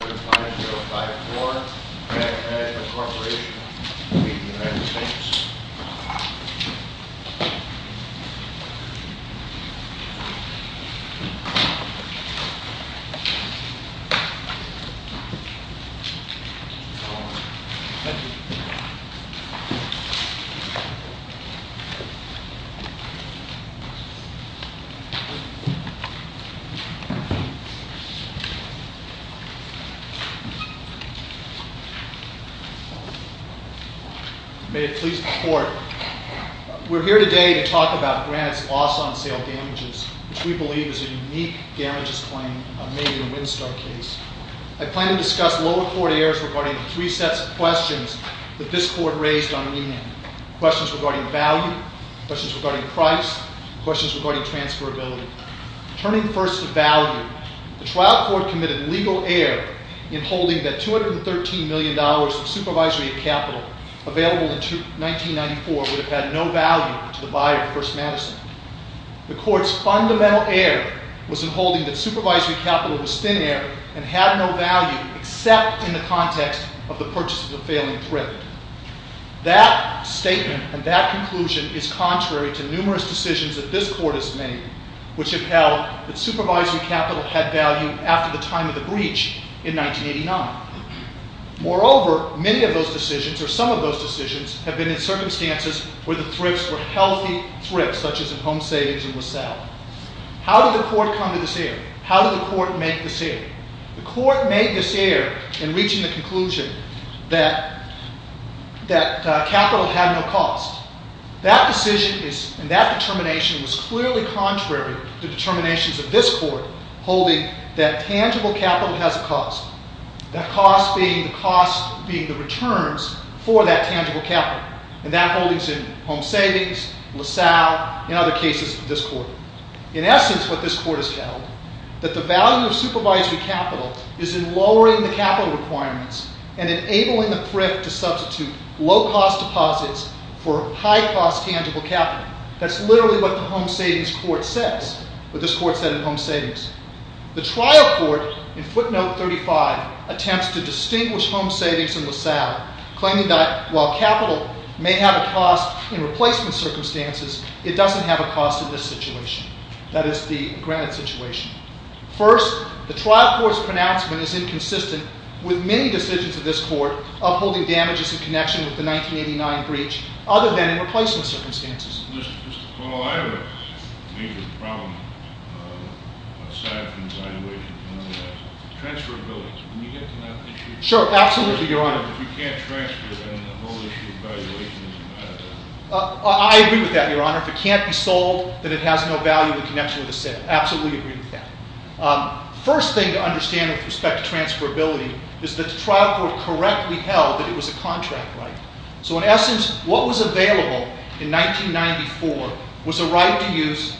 35054 Magnet Management Corporation v. United States May it please the court, we're here today to talk about Granite's loss on sale damages, which we believe is a unique damages claim made in a Winstar case. I plan to discuss lower court errors regarding three sets of questions that this court raised on an email. Questions regarding value, questions regarding price, questions regarding transferability. Turning first to value, the trial court committed legal error in holding that $213 million of supervisory capital available in 1994 would have had no value to the buyer, First Madison. The court's fundamental error was in holding that supervisory capital was thin air and had no value except in the context of the purchase of the failing print. That statement and that conclusion is contrary to numerous decisions that this court has made, which upheld that supervisory capital had value after the time of the breach in 1989. Moreover, many of those decisions, or some of those decisions, have been in circumstances where the thrifts were healthy thrifts, such as in home savings and was sale. How did the court come to this error? How did the court make this error? The court made this error in reaching the conclusion that capital had no cost. That decision and that determination was clearly contrary to determinations of this court holding that tangible capital has a cost. That cost being the cost being the returns for that tangible capital. And that holding is in home savings, LaSalle, and other cases of this court. In essence, what this court has held, that the value of supervisory capital is in lowering the capital requirements and enabling the thrift to substitute low-cost deposits for high-cost tangible capital. That's literally what the home savings court says, what this court said in home savings. The trial court in footnote 35 attempts to distinguish home savings and LaSalle, claiming that while capital may have a cost in replacement circumstances, it doesn't have a cost in this situation. That is the granted situation. First, the trial court's pronouncement is inconsistent with many decisions of this court upholding damages in connection with the 1989 breach, other than in replacement circumstances. Mr. Kroll, I have a major problem aside from valuation. Transferability. When you get to that issue, if you can't transfer, then the whole issue of valuation doesn't matter. I agree with that, Your Honor. If it can't be sold, then it has no value in connection with the sale. Absolutely agree with that. First thing to understand with respect to transferability is that the trial court correctly held that it was a contract right. So, in essence, what was available in 1994 was a right to use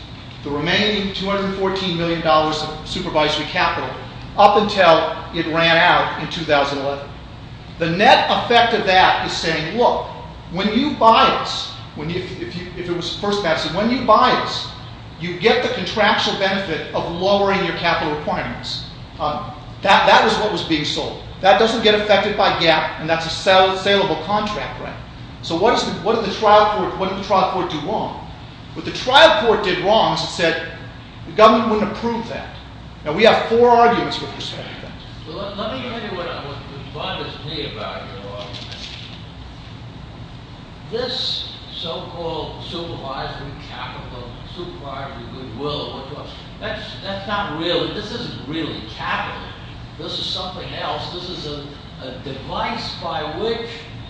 the remaining $214 million of supervisory capital up until it ran out in 2011. The net effect of that is saying, look, when you buy it, if it was first match, when you buy it, you get the contractual benefit of lowering your capital requirements. That is what was being sold. That doesn't get affected by GAAP, and that's a saleable contract, right? So what did the trial court do wrong? What the trial court did wrong is it said the government wouldn't approve that. Now, we have four arguments with respect to that. Let me tell you what bothers me about it, Your Honor. This so-called supervisory capital, supervisory goodwill, that's not real. This isn't really capital. This is something else. This is a device by which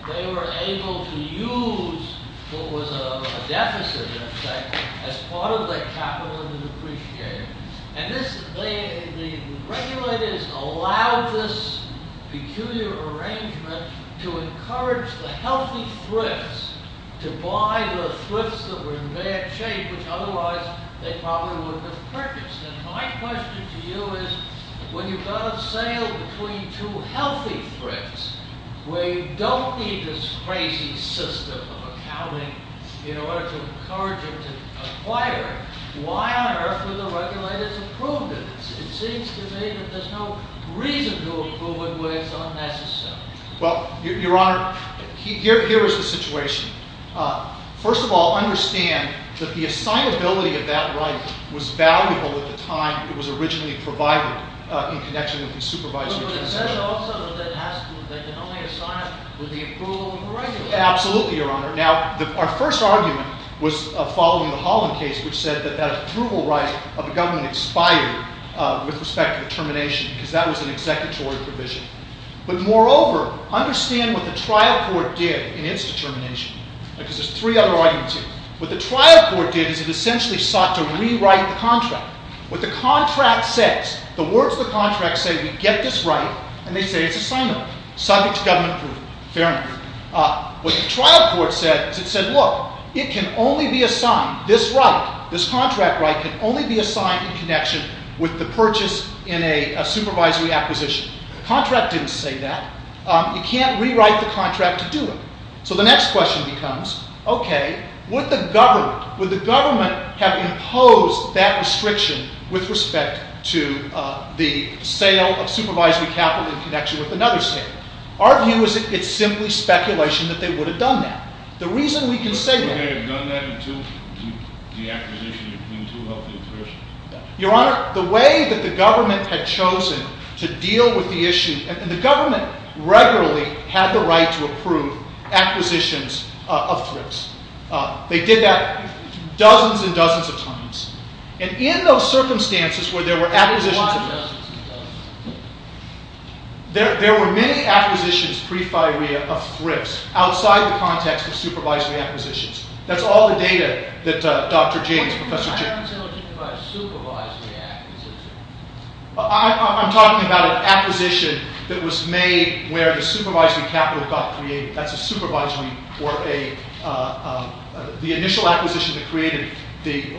they were able to use what was a deficit, in effect, as part of their capital in the depreciation. And the regulators allowed this peculiar arrangement to encourage the healthy thrifts to buy the thrifts that were in bad shape, which otherwise they probably wouldn't have purchased. And my question to you is, when you've got a sale between two healthy thrifts where you don't need this crazy system of accounting in order to encourage them to acquire, why on earth would the regulators approve this? It seems to me that there's no reason to approve it when it's unnecessary. Well, Your Honor, here is the situation. First of all, understand that the assignability of that right was valuable at the time it was originally provided in connection with the supervisory concession. But it says also that they can only assign it with the approval of the regulators. Absolutely, Your Honor. Now, our first argument was following the Holland case, which said that that approval right of the government expired with respect to the termination because that was an executory provision. But moreover, understand what the trial court did in its determination. Because there's three other arguments here. What the trial court did is it essentially sought to rewrite the contract. What the contract says, the words of the contract say, we get this right, and they say it's assignable, subject to government approval. Fair enough. What the trial court said is it said, look, it can only be assigned, this right, this contract right can only be assigned in connection with the purchase in a supervisory acquisition. The contract didn't say that. You can't rewrite the contract to do it. So the next question becomes, OK, would the government have imposed that restriction with respect to the sale of supervisory capital in connection with another sale? Our view is it's simply speculation that they would have done that. The reason we can say that. They would have done that until the acquisition had been too healthy a purchase. Your Honor, the way that the government had chosen to deal with the issue, and the government regularly had the right to approve acquisitions of thrips. They did that dozens and dozens of times. And in those circumstances where there were acquisitions of thrips, there were many acquisitions pre-firea of thrips outside the context of supervisory acquisitions. That's all the data that Dr. James, Professor James. I'm talking about an acquisition that was made where the supervisory capital got created. That's a supervisory, or the initial acquisition that created,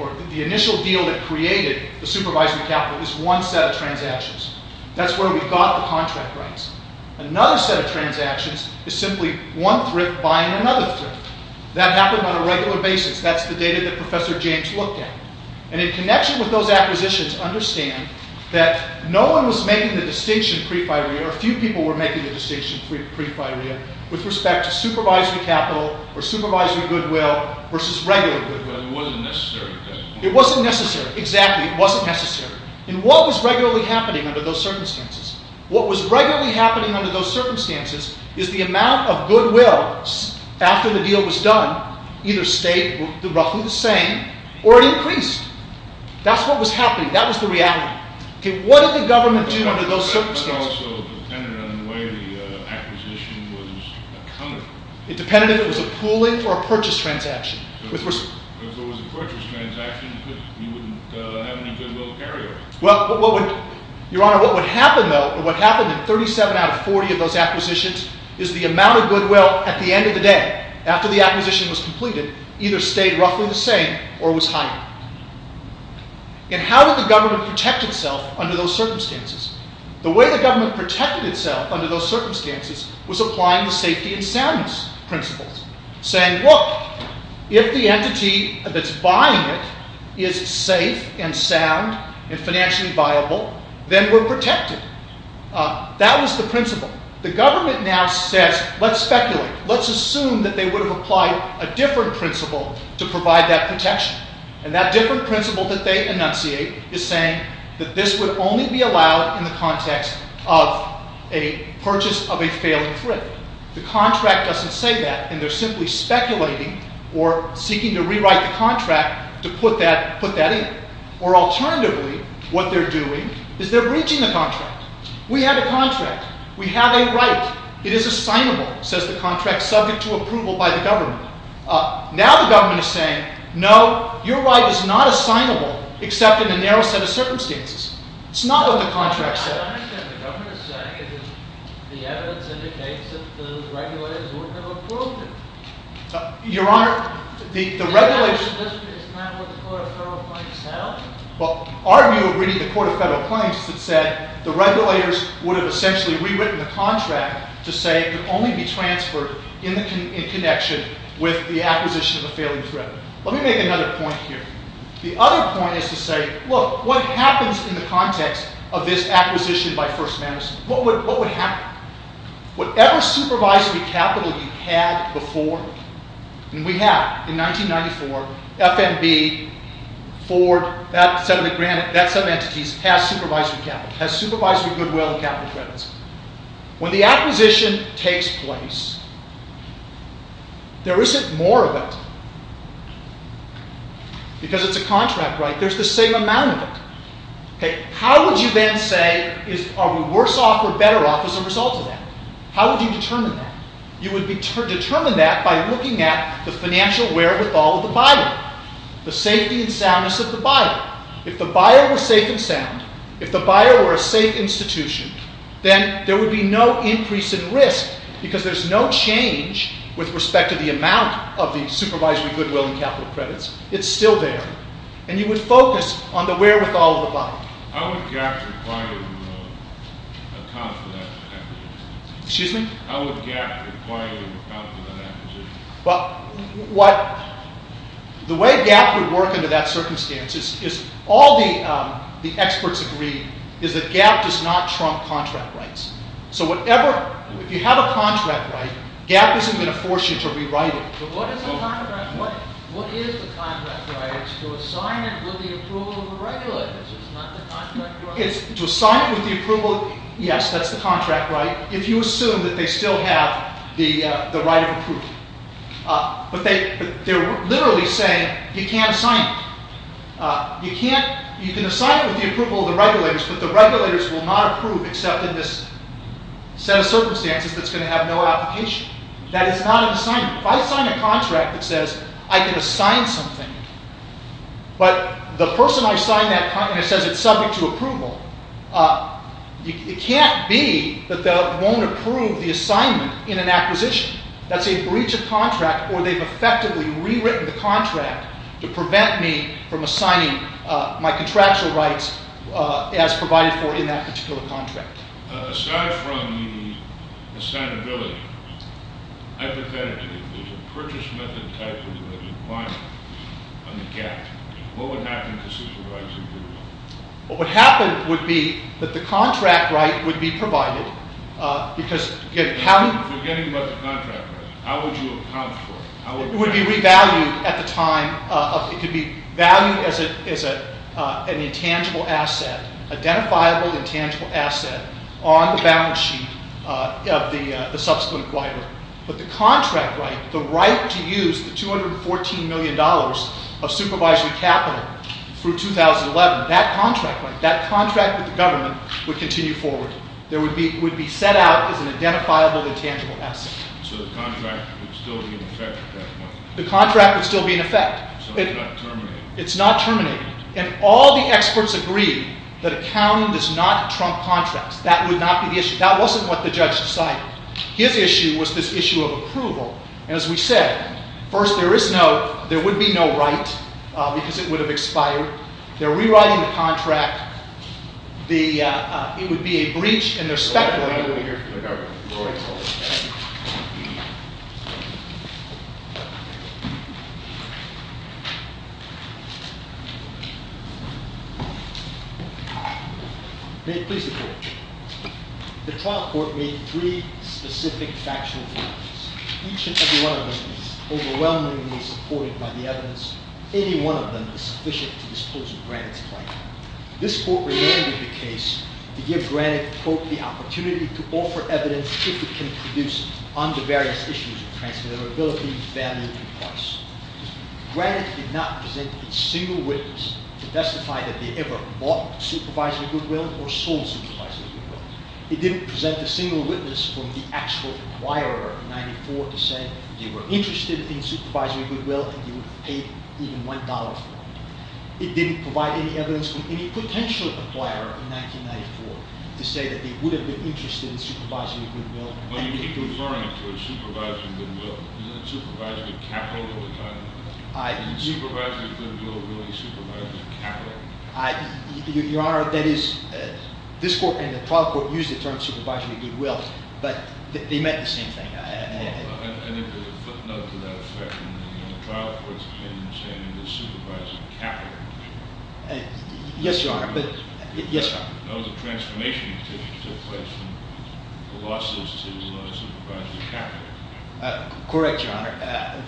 or the initial deal that created the supervisory capital is one set of transactions. That's where we got the contract rights. Another set of transactions is simply one thrift buying another thrift. That happened on a regular basis. That's the data that Professor James looked at. And in connection with those acquisitions, understand that no one was making the distinction pre-firea, or few people were making the distinction pre-firea, with respect to supervisory capital or supervisory goodwill versus regular goodwill. It wasn't necessary. It wasn't necessary. Exactly. It wasn't necessary. And what was regularly happening under those circumstances? What was regularly happening under those circumstances is the amount of goodwill after the deal was done either stayed roughly the same or it increased. That's what was happening. That was the reality. What did the government do under those circumstances? It also depended on the way the acquisition was accounted for. It depended if it was a pooling or a purchase transaction. If it was a purchase transaction, you wouldn't have any goodwill carriers. Your Honor, what would happen, though, or what happened in 37 out of 40 of those acquisitions is the amount of goodwill at the end of the day, after the acquisition was completed, either stayed roughly the same or was higher. And how did the government protect itself under those circumstances? The way the government protected itself under those circumstances was applying the safety and soundness principles, saying, look, if the entity that's buying it is safe and sound and financially viable, then we're protected. That was the principle. The government now says, let's speculate. Let's assume that they would have applied a different principle to provide that protection. And that different principle that they enunciate is saying that this would only be allowed in the context of a purchase of a failing thrift. The contract doesn't say that, and they're simply speculating or seeking to rewrite the contract to put that in. Or alternatively, what they're doing is they're breaching the contract. We have a contract. We have a right. It is assignable, says the contract, subject to approval by the government. Now the government is saying, no, your right is not assignable except in a narrow set of circumstances. It's not what the contract says. I understand. The government is saying that the evidence indicates that the regulators weren't going to approve it. Your Honor, the regulators— That is not what the Court of Federal Claims held. Well, our view of reading the Court of Federal Claims is it said the regulators would have essentially rewritten the contract to say it could only be transferred in connection with the acquisition of a failing thrift. Let me make another point here. The other point is to say, look, what happens in the context of this acquisition by First Madison? What would happen? Whatever supervisory capital you had before—and we have. In 1994, FNB, Ford, that set of entities has supervisory capital, has supervisory goodwill and capital credits. When the acquisition takes place, there isn't more of it. Because it's a contract, right? There's the same amount of it. How would you then say, are we worse off or better off as a result of that? How would you determine that? You would determine that by looking at the financial wherewithal of the buyer. The safety and soundness of the buyer. If the buyer was safe and sound, if the buyer were a safe institution, then there would be no increase in risk because there's no change with respect to the amount of the supervisory goodwill and capital credits. It's still there. And you would focus on the wherewithal of the buyer. How would GAAP require you to account for that acquisition? The way GAAP would work under that circumstance is—all the experts agree—is that GAAP does not trump contract rights. So if you have a contract right, GAAP isn't going to force you to rewrite it. But what is the contract right to assign it with the approval of the regulators? It's not the contract right— To assign it with the approval—yes, that's the contract right, if you assume that they still have the right of approval. But they're literally saying, you can't assign it. You can assign it with the approval of the regulators, but the regulators will not approve except in this set of circumstances that's going to have no application. That is not an assignment. If I sign a contract that says I can assign something, but the person I sign that contract says it's subject to approval, it can't be that they won't approve the assignment in an acquisition. That's a breach of contract, or they've effectively rewritten the contract to prevent me from assigning my contractual rights as provided for in that particular contract. Aside from the assignability, hypothetically, the purchase method type of employment on the GAAP, what would happen to supervisor approval? What would happen would be that the contract right would be provided because— You're forgetting about the contract right. How would you account for it? It would be revalued at the time of—it could be valued as an intangible asset, identifiable intangible asset on the balance sheet of the subsequent acquirer. But the contract right, the right to use the $214 million of supervisory capital through 2011, that contract right, that contract with the government would continue forward. It would be set out as an identifiable intangible asset. So the contract would still be in effect at that point? The contract would still be in effect. So it's not terminated? It's not terminated. And all the experts agree that accounting does not trump contracts. That would not be the issue. That wasn't what the judge decided. His issue was this issue of approval. And as we said, first, there would be no right because it would have expired. They're rewriting the contract. It would be a breach, and they're speculating— Thank you, Your Honor. May it please the Court. The trial court made three specific factional judgments. Each and every one of them is overwhelmingly supported by the evidence. Any one of them is sufficient to dispose of Granik's claim. This court reverted the case to give Granik, quote, the opportunity to offer evidence if it can produce on the various issues of transferability, value, and price. Granik did not present a single witness to testify that they ever bought supervisory goodwill or sold supervisory goodwill. It didn't present a single witness from the actual acquirer, 94%, that they were interested in supervisory goodwill and they would have paid even $1 for it. It didn't provide any evidence from any potential acquirer in 1994 to say that they would have been interested in supervisory goodwill. Your Honor, this court and the trial court used the term supervisory goodwill, but they meant the same thing. Yes, Your Honor. Yes, Your Honor. Correct, Your Honor.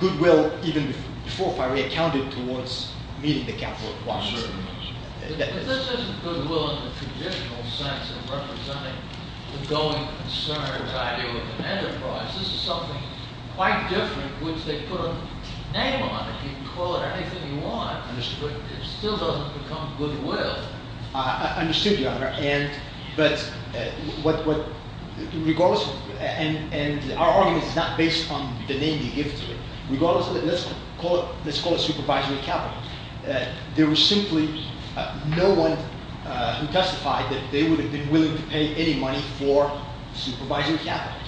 Goodwill, even before Piray, counted towards meeting the capital at once. Yes, sir. It still doesn't become goodwill. I understood, Your Honor, but regardless, and our argument is not based on the name you give to it. Regardless, let's call it supervisory capital. There was simply no one who testified that they would have been willing to pay any money for supervisory capital.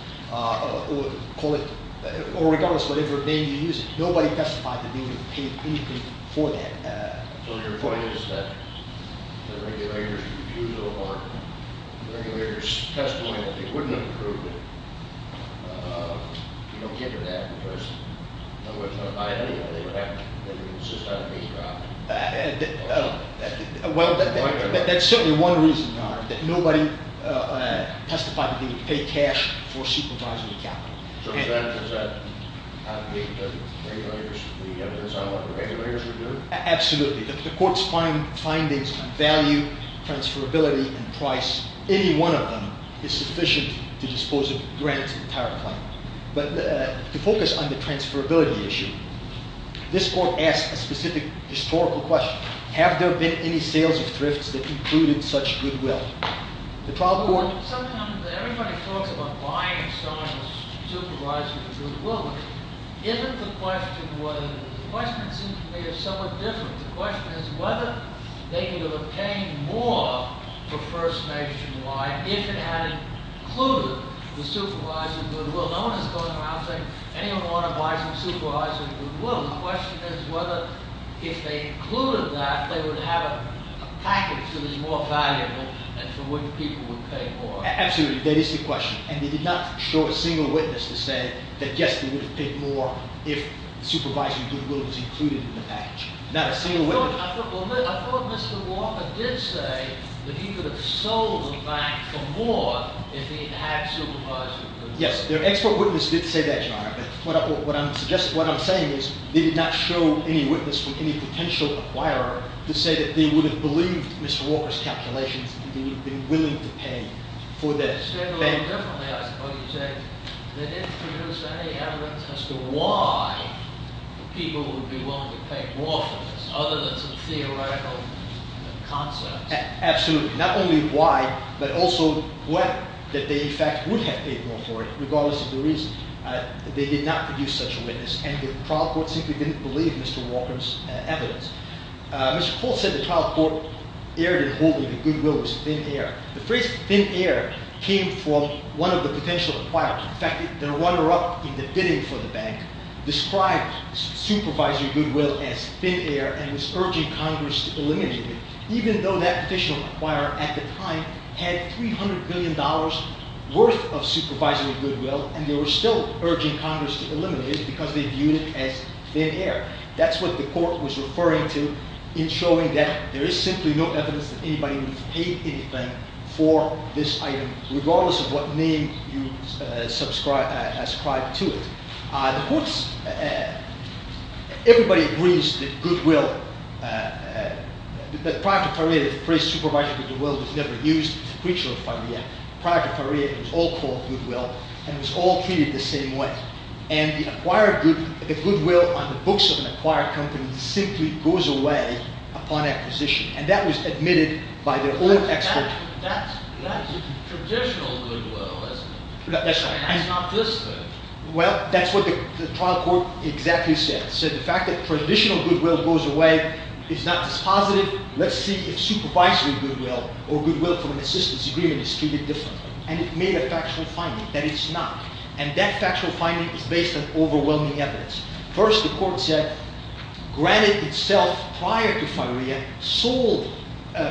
Regardless, whatever name you use, nobody testified that they would have paid anything for that. So, your point is that the regulators refused or the regulators testified that they wouldn't have approved it. You don't get to that because no one's going to buy it anyway. They would have to insist on being dropped. Well, that's certainly one reason, Your Honor, that nobody testified that they would pay cash for supervisory capital. So, does that not make the regulators, the evidence on what the regulators would do? Absolutely. The court's findings on value, transferability, and price, any one of them, is sufficient to dispose of Grant and Piray. But to focus on the transferability issue, this court asked a specific historical question. Have there been any sales of thrifts that included such goodwill? Sometimes everybody talks about buying someone's supervisory goodwill. The question seems to me to be somewhat different. The question is whether they would have paid more for First Nationwide if it had included the supervisory goodwill. No one is going around saying anyone ought to buy some supervisory goodwill. The question is whether if they included that, they would have a package that was more valuable and for which people would pay more. Absolutely. That is the question. And they did not show a single witness to say that, yes, they would have paid more if supervisory goodwill was included in the package. Not a single witness. I thought Mr. Walker did say that he could have sold the bank for more if he had had supervisory goodwill. Yes. Their expert witness did say that, Your Honor. What I'm saying is they did not show any witness from any potential acquirer to say that they would have believed Mr. Walker's calculations and they would have been willing to pay for the bank. I understand a little differently. I suppose you're saying they didn't produce any evidence as to why people would be willing to pay more for this other than some theoretical concepts. Absolutely. Not only why, but also whether they in fact would have paid more for it regardless of the reason. They did not produce such a witness, and the trial court simply didn't believe Mr. Walker's evidence. Mr. Folt said the trial court erred in holding that goodwill was thin air. The phrase thin air came from one of the potential acquirers. In fact, the runner-up in the bidding for the bank described supervisory goodwill as thin air and was urging Congress to eliminate it, even though that potential acquirer at the time had $300 billion worth of supervisory goodwill and they were still urging Congress to eliminate it because they viewed it as thin air. That's what the court was referring to in showing that there is simply no evidence that anybody would have paid anything for this item regardless of what name you ascribe to it. The courts, everybody agrees that goodwill, that prior to Farrier, the phrase supervisory goodwill was never used. It's a creature of Farrier. Prior to Farrier, it was all called goodwill, and it was all treated the same way. And the acquired goodwill on the books of an acquired company simply goes away upon acquisition, and that was admitted by their own expert. That's traditional goodwill, isn't it? That's right. That's not this good. Well, that's what the trial court exactly said. It said the fact that traditional goodwill goes away is not dispositive. Let's see if supervisory goodwill or goodwill from an assistance agreement is treated differently. And it made a factual finding that it's not. And that factual finding is based on overwhelming evidence. First, the court said, granted itself prior to Farrier, sold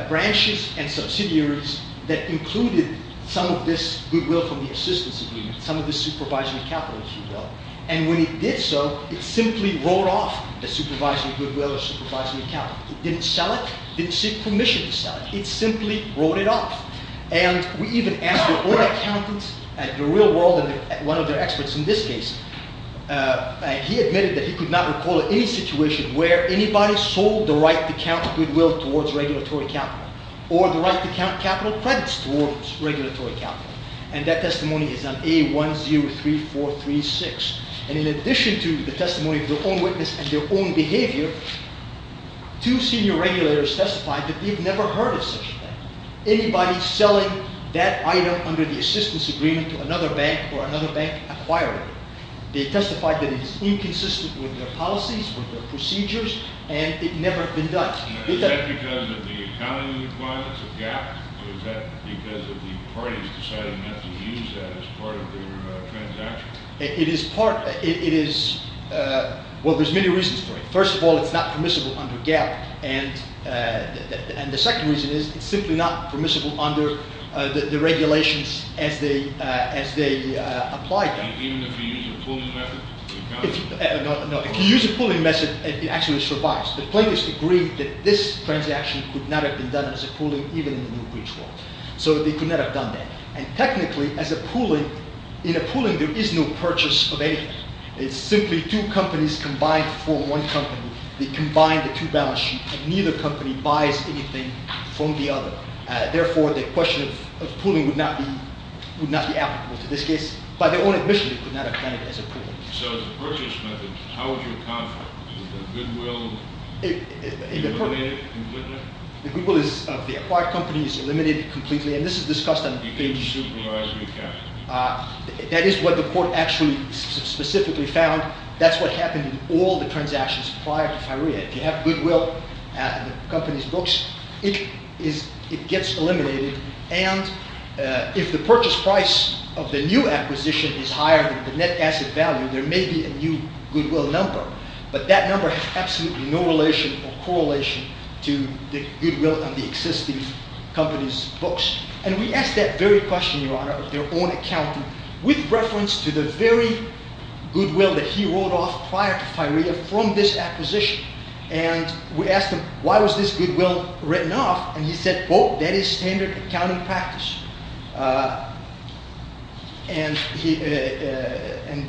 branches and subsidiaries that included some of this goodwill from the assistance agreement, some of this supervisory capital, if you will. And when it did so, it simply wrote off the supervisory goodwill or supervisory capital. It didn't sell it. It didn't seek permission to sell it. It simply wrote it off. And we even asked their own accountants, the real world and one of their experts in this case, he admitted that he could not recall any situation where anybody sold the right to count goodwill towards regulatory capital or the right to count capital credits towards regulatory capital. And that testimony is on A103436. And in addition to the testimony of their own witness and their own behavior, two senior regulators testified that they've never heard of such a thing. Anybody selling that item under the assistance agreement to another bank or another bank acquired it. They testified that it is inconsistent with their policies, with their procedures, and it never been done. Is that because of the accounting requirements of GAAP? Or is that because of the parties deciding not to use that as part of their transaction? It is part. It is. Well, there's many reasons for it. First of all, it's not permissible under GAAP. And the second reason is it's simply not permissible under the regulations as they apply them. Even if you use a pooling method? No, if you use a pooling method, it actually survives. The plaintiffs agreed that this transaction could not have been done as a pooling even in the new breach law. So they could not have done that. And technically, as a pooling, in a pooling, there is no purchase of anything. It's simply two companies combined to form one company. They combine the two balance sheets. And neither company buys anything from the other. Therefore, the question of pooling would not be applicable to this case. By their own admission, they could not have done it as a pooling. So the purchase method, how would you account for it? Is the goodwill eliminated completely? The goodwill of the acquired company is eliminated completely. And this is discussed on the page. You can't supervise recapture. That is what the court actually specifically found. That's what happened in all the transactions prior to FIREA. If you have goodwill in the company's books, it gets eliminated. And if the purchase price of the new acquisition is higher than the net asset value, there may be a new goodwill number. But that number has absolutely no relation or correlation to the goodwill on the existing company's books. And we asked that very question, Your Honor, of their own accountant, with reference to the very goodwill that he wrote off prior to FIREA from this acquisition. And we asked him, why was this goodwill written off? And he said, oh, that is standard accounting practice. And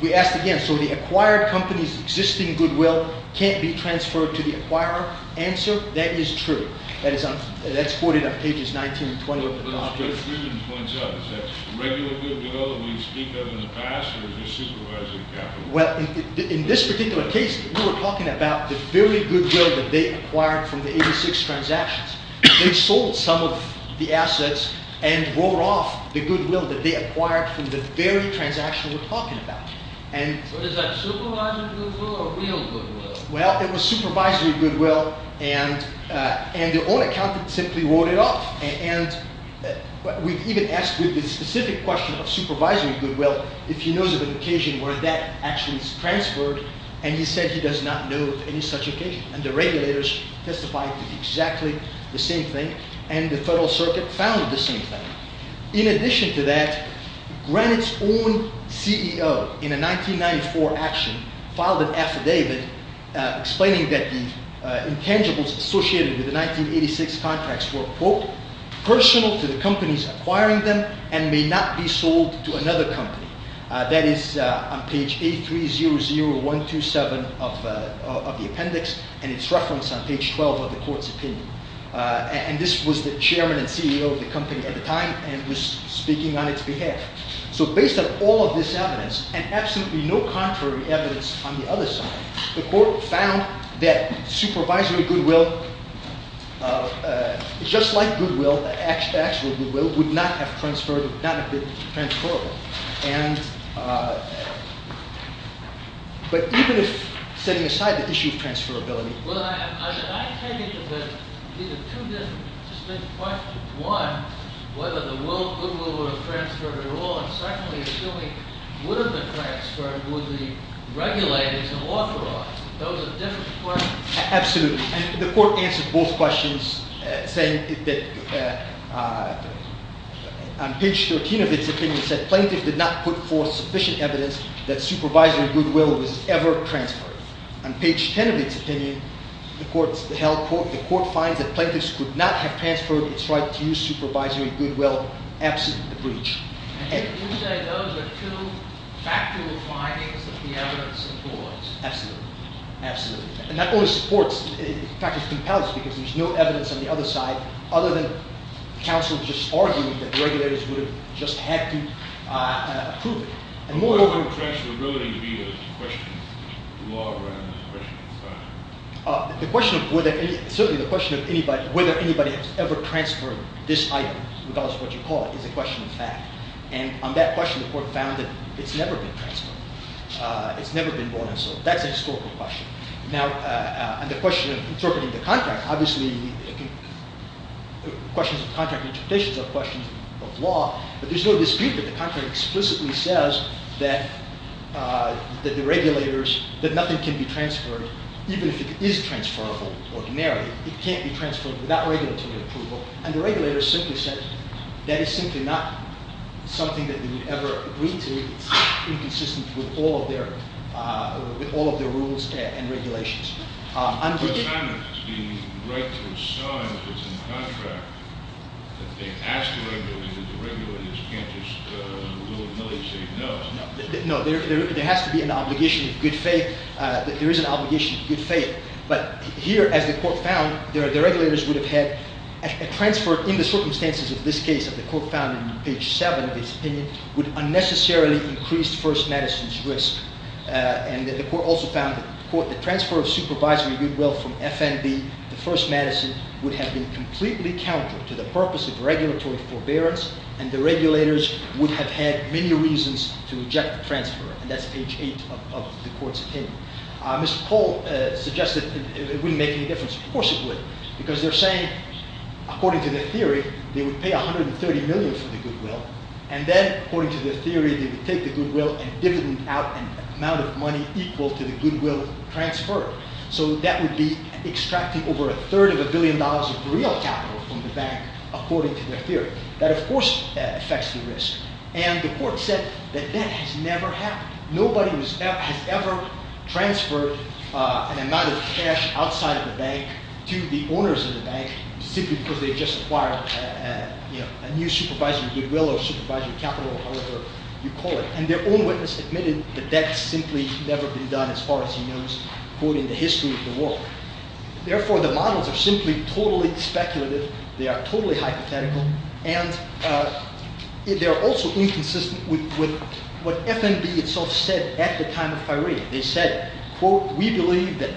we asked again, so the acquired company's existing goodwill can't be transferred to the acquirer? Answer, that is true. That's quoted on pages 19 and 20 of the documents. But Mr. Friedman points out, is that regular goodwill that we speak of in the past or is it supervisory capital? Well, in this particular case, we were talking about the very goodwill that they acquired from the 86 transactions. They sold some of the assets and wrote off the goodwill that they acquired from the very transaction we're talking about. But is that supervisory goodwill or real goodwill? Well, it was supervisory goodwill. And the own accountant simply wrote it off. And we even asked with the specific question of supervisory goodwill, if he knows of an occasion where that actually is transferred. And he said he does not know of any such occasion. And the regulators testified to exactly the same thing. And the Federal Circuit found the same thing. In addition to that, Granite's own CEO in a 1994 action filed an affidavit explaining that the intangibles associated with the 1986 contracts were, quote, personal to the companies acquiring them and may not be sold to another company. That is on page 8300127 of the appendix and it's referenced on page 12 of the court's opinion. And this was the chairman and CEO of the company at the time and was speaking on its behalf. So based on all of this evidence and absolutely no contrary evidence on the other side, the court found that supervisory goodwill, just like goodwill, the actual goodwill, would not have been transferable. But even if setting aside the issue of transferability. Well, I take it that these are two different questions. One, whether the goodwill would have transferred at all. And secondly, assuming it would have been transferred, would the regulators have authorized it? Those are different questions. Absolutely. The court answered both questions saying that on page 13 of its opinion, it said plaintiff did not put forth sufficient evidence that supervisory goodwill was ever transferred. On page 10 of its opinion, the court finds that plaintiffs could not have transferred its right to use supervisory goodwill, absent the breach. And you say those are two factual findings of the evidence in court. Absolutely. Absolutely. And that only supports, in fact, it compels because there's no evidence on the other side, other than counsel just arguing that regulators would have just had to approve it. The question of whether anybody has ever transferred this item, regardless of what you call it, is a question of fact. And on that question, the court found that it's never been transferred. It's never been brought in. So that's a historical question. Now, on the question of interpreting the contract, obviously, questions of contract interpretations are questions of law. But there's no dispute that the contract explicitly says that the regulators, that nothing can be transferred, even if it is transferable ordinarily. It can't be transferred without regulatory approval. And the regulators simply said that is simply not something that they would ever agree to. It's inconsistent with all of their rules and regulations. The assignment to the right to assign if it's in the contract, that they ask the regulators, and the regulators can't just in the rule of millie say no. No. There has to be an obligation of good faith. There is an obligation of good faith. But here, as the court found, the regulators would have had a transfer in the circumstances of this case, that the court found in page 7 of its opinion, would unnecessarily increase First Medicine's risk. And the court also found that the transfer of supervisory goodwill from FNB to First Medicine would have been completely counter to the purpose of regulatory forbearance, and the regulators would have had many reasons to reject the transfer. And that's page 8 of the court's opinion. Mr. Pohl suggested it wouldn't make any difference. Of course it would. Because they're saying, according to their theory, they would pay $130 million for the goodwill. And then, according to their theory, they would take the goodwill and dividend out an amount of money equal to the goodwill transferred. So that would be extracting over a third of a billion dollars of real capital from the bank, according to their theory. That, of course, affects the risk. And the court said that that has never happened. Nobody has ever transferred an amount of cash outside of the bank to the owners of the bank, simply because they had just acquired a new supervisory goodwill or supervisory capital, or however you call it. And their own witness admitted that that's simply never been done, as far as he knows, according to the history of the world. Therefore, the models are simply totally speculative. They are totally hypothetical. And they're also inconsistent with what FNB itself said at the time of firing. They said, quote, We believe that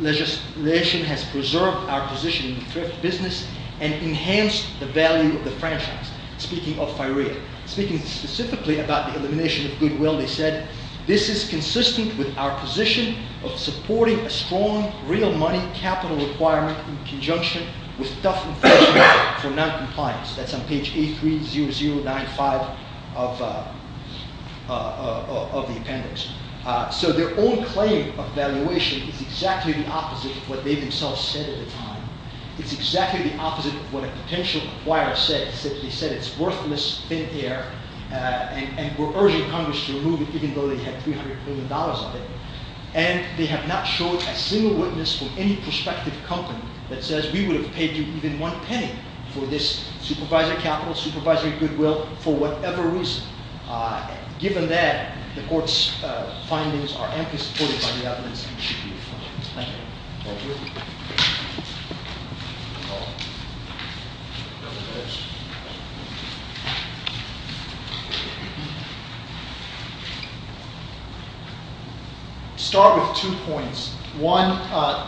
legislation has preserved our position in the thrift business and enhanced the value of the franchise. Speaking of firing, speaking specifically about the elimination of goodwill, they said, This is consistent with our position of supporting a strong real money capital requirement in conjunction with tough enforcement for noncompliance. That's on page 830095 of the appendix. So their own claim of valuation is exactly the opposite of what they themselves said at the time. It's exactly the opposite of what a potential acquirer said. They said it's worthless, thin air, and were urging Congress to remove it even though they had $300 million of it. And they have not shown a single witness from any prospective company that says we would have paid you even one penny for this supervisory capital, supervisory goodwill, for whatever reason. Given that, the court's findings are amply supported by the evidence. Thank you. Start with two points. One,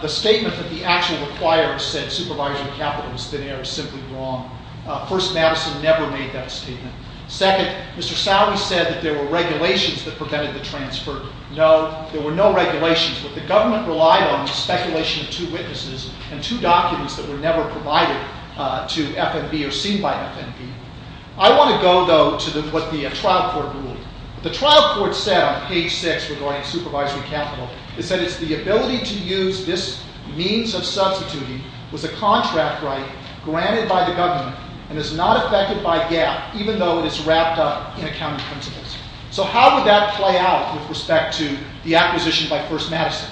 the statement that the actual acquirer said supervisory capital was thin air is simply wrong. First, Madison never made that statement. Second, Mr. Sowery said that there were regulations that prevented the transfer. No, there were no regulations. What the government relied on was speculation of two witnesses and two documents that were never provided to FNB or seen by FNB. I want to go, though, to what the trial court ruled. The trial court said on page 6 regarding supervisory capital, it said it's the ability to use this means of substituting was a contract right granted by the government and is not affected by GAAP even though it is wrapped up in accounting principles. So how would that play out with respect to the acquisition by First Madison?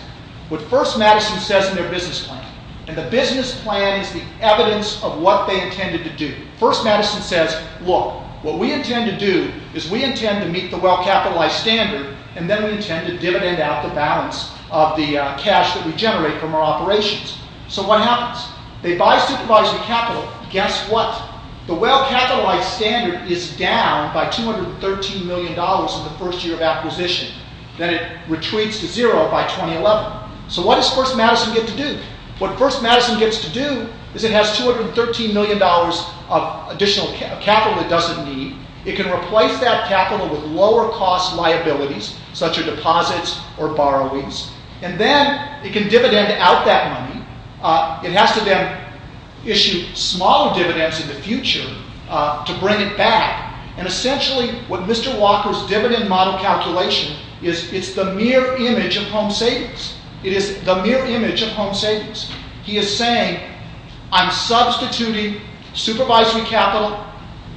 What First Madison says in their business plan, and the business plan is the evidence of what they intended to do, First Madison says, look, what we intend to do is we intend to meet the well-capitalized standard and then we intend to dividend out the balance of the cash that we generate from our operations. So what happens? They buy supervisory capital. Guess what? The well-capitalized standard is down by $213 million in the first year of acquisition. Then it retreats to zero by 2011. So what does First Madison get to do? What First Madison gets to do is it has $213 million of additional capital it doesn't need. It can replace that capital with lower-cost liabilities such as deposits or borrowings. And then it can dividend out that money. It has to then issue smaller dividends in the future to bring it back. And essentially what Mr. Walker's dividend model calculation is, it's the mere image of home savings. It is the mere image of home savings. He is saying, I'm substituting supervisory capital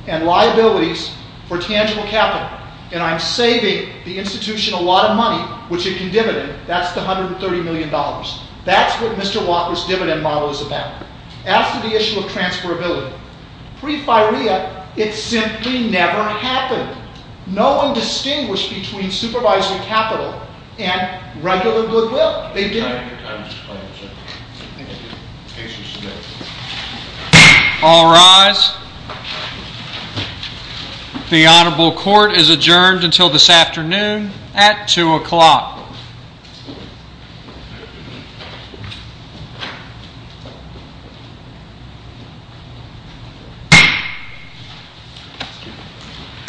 and liabilities for tangible capital, and I'm saving the institution a lot of money, which it can dividend. That's the $130 million. That's what Mr. Walker's dividend model is about. As to the issue of transferability, pre-FIREA, it simply never happened. No one distinguished between supervisory capital and regular goodwill. They didn't. All rise. The Honorable Court is adjourned until this afternoon at 2 o'clock. Thank you.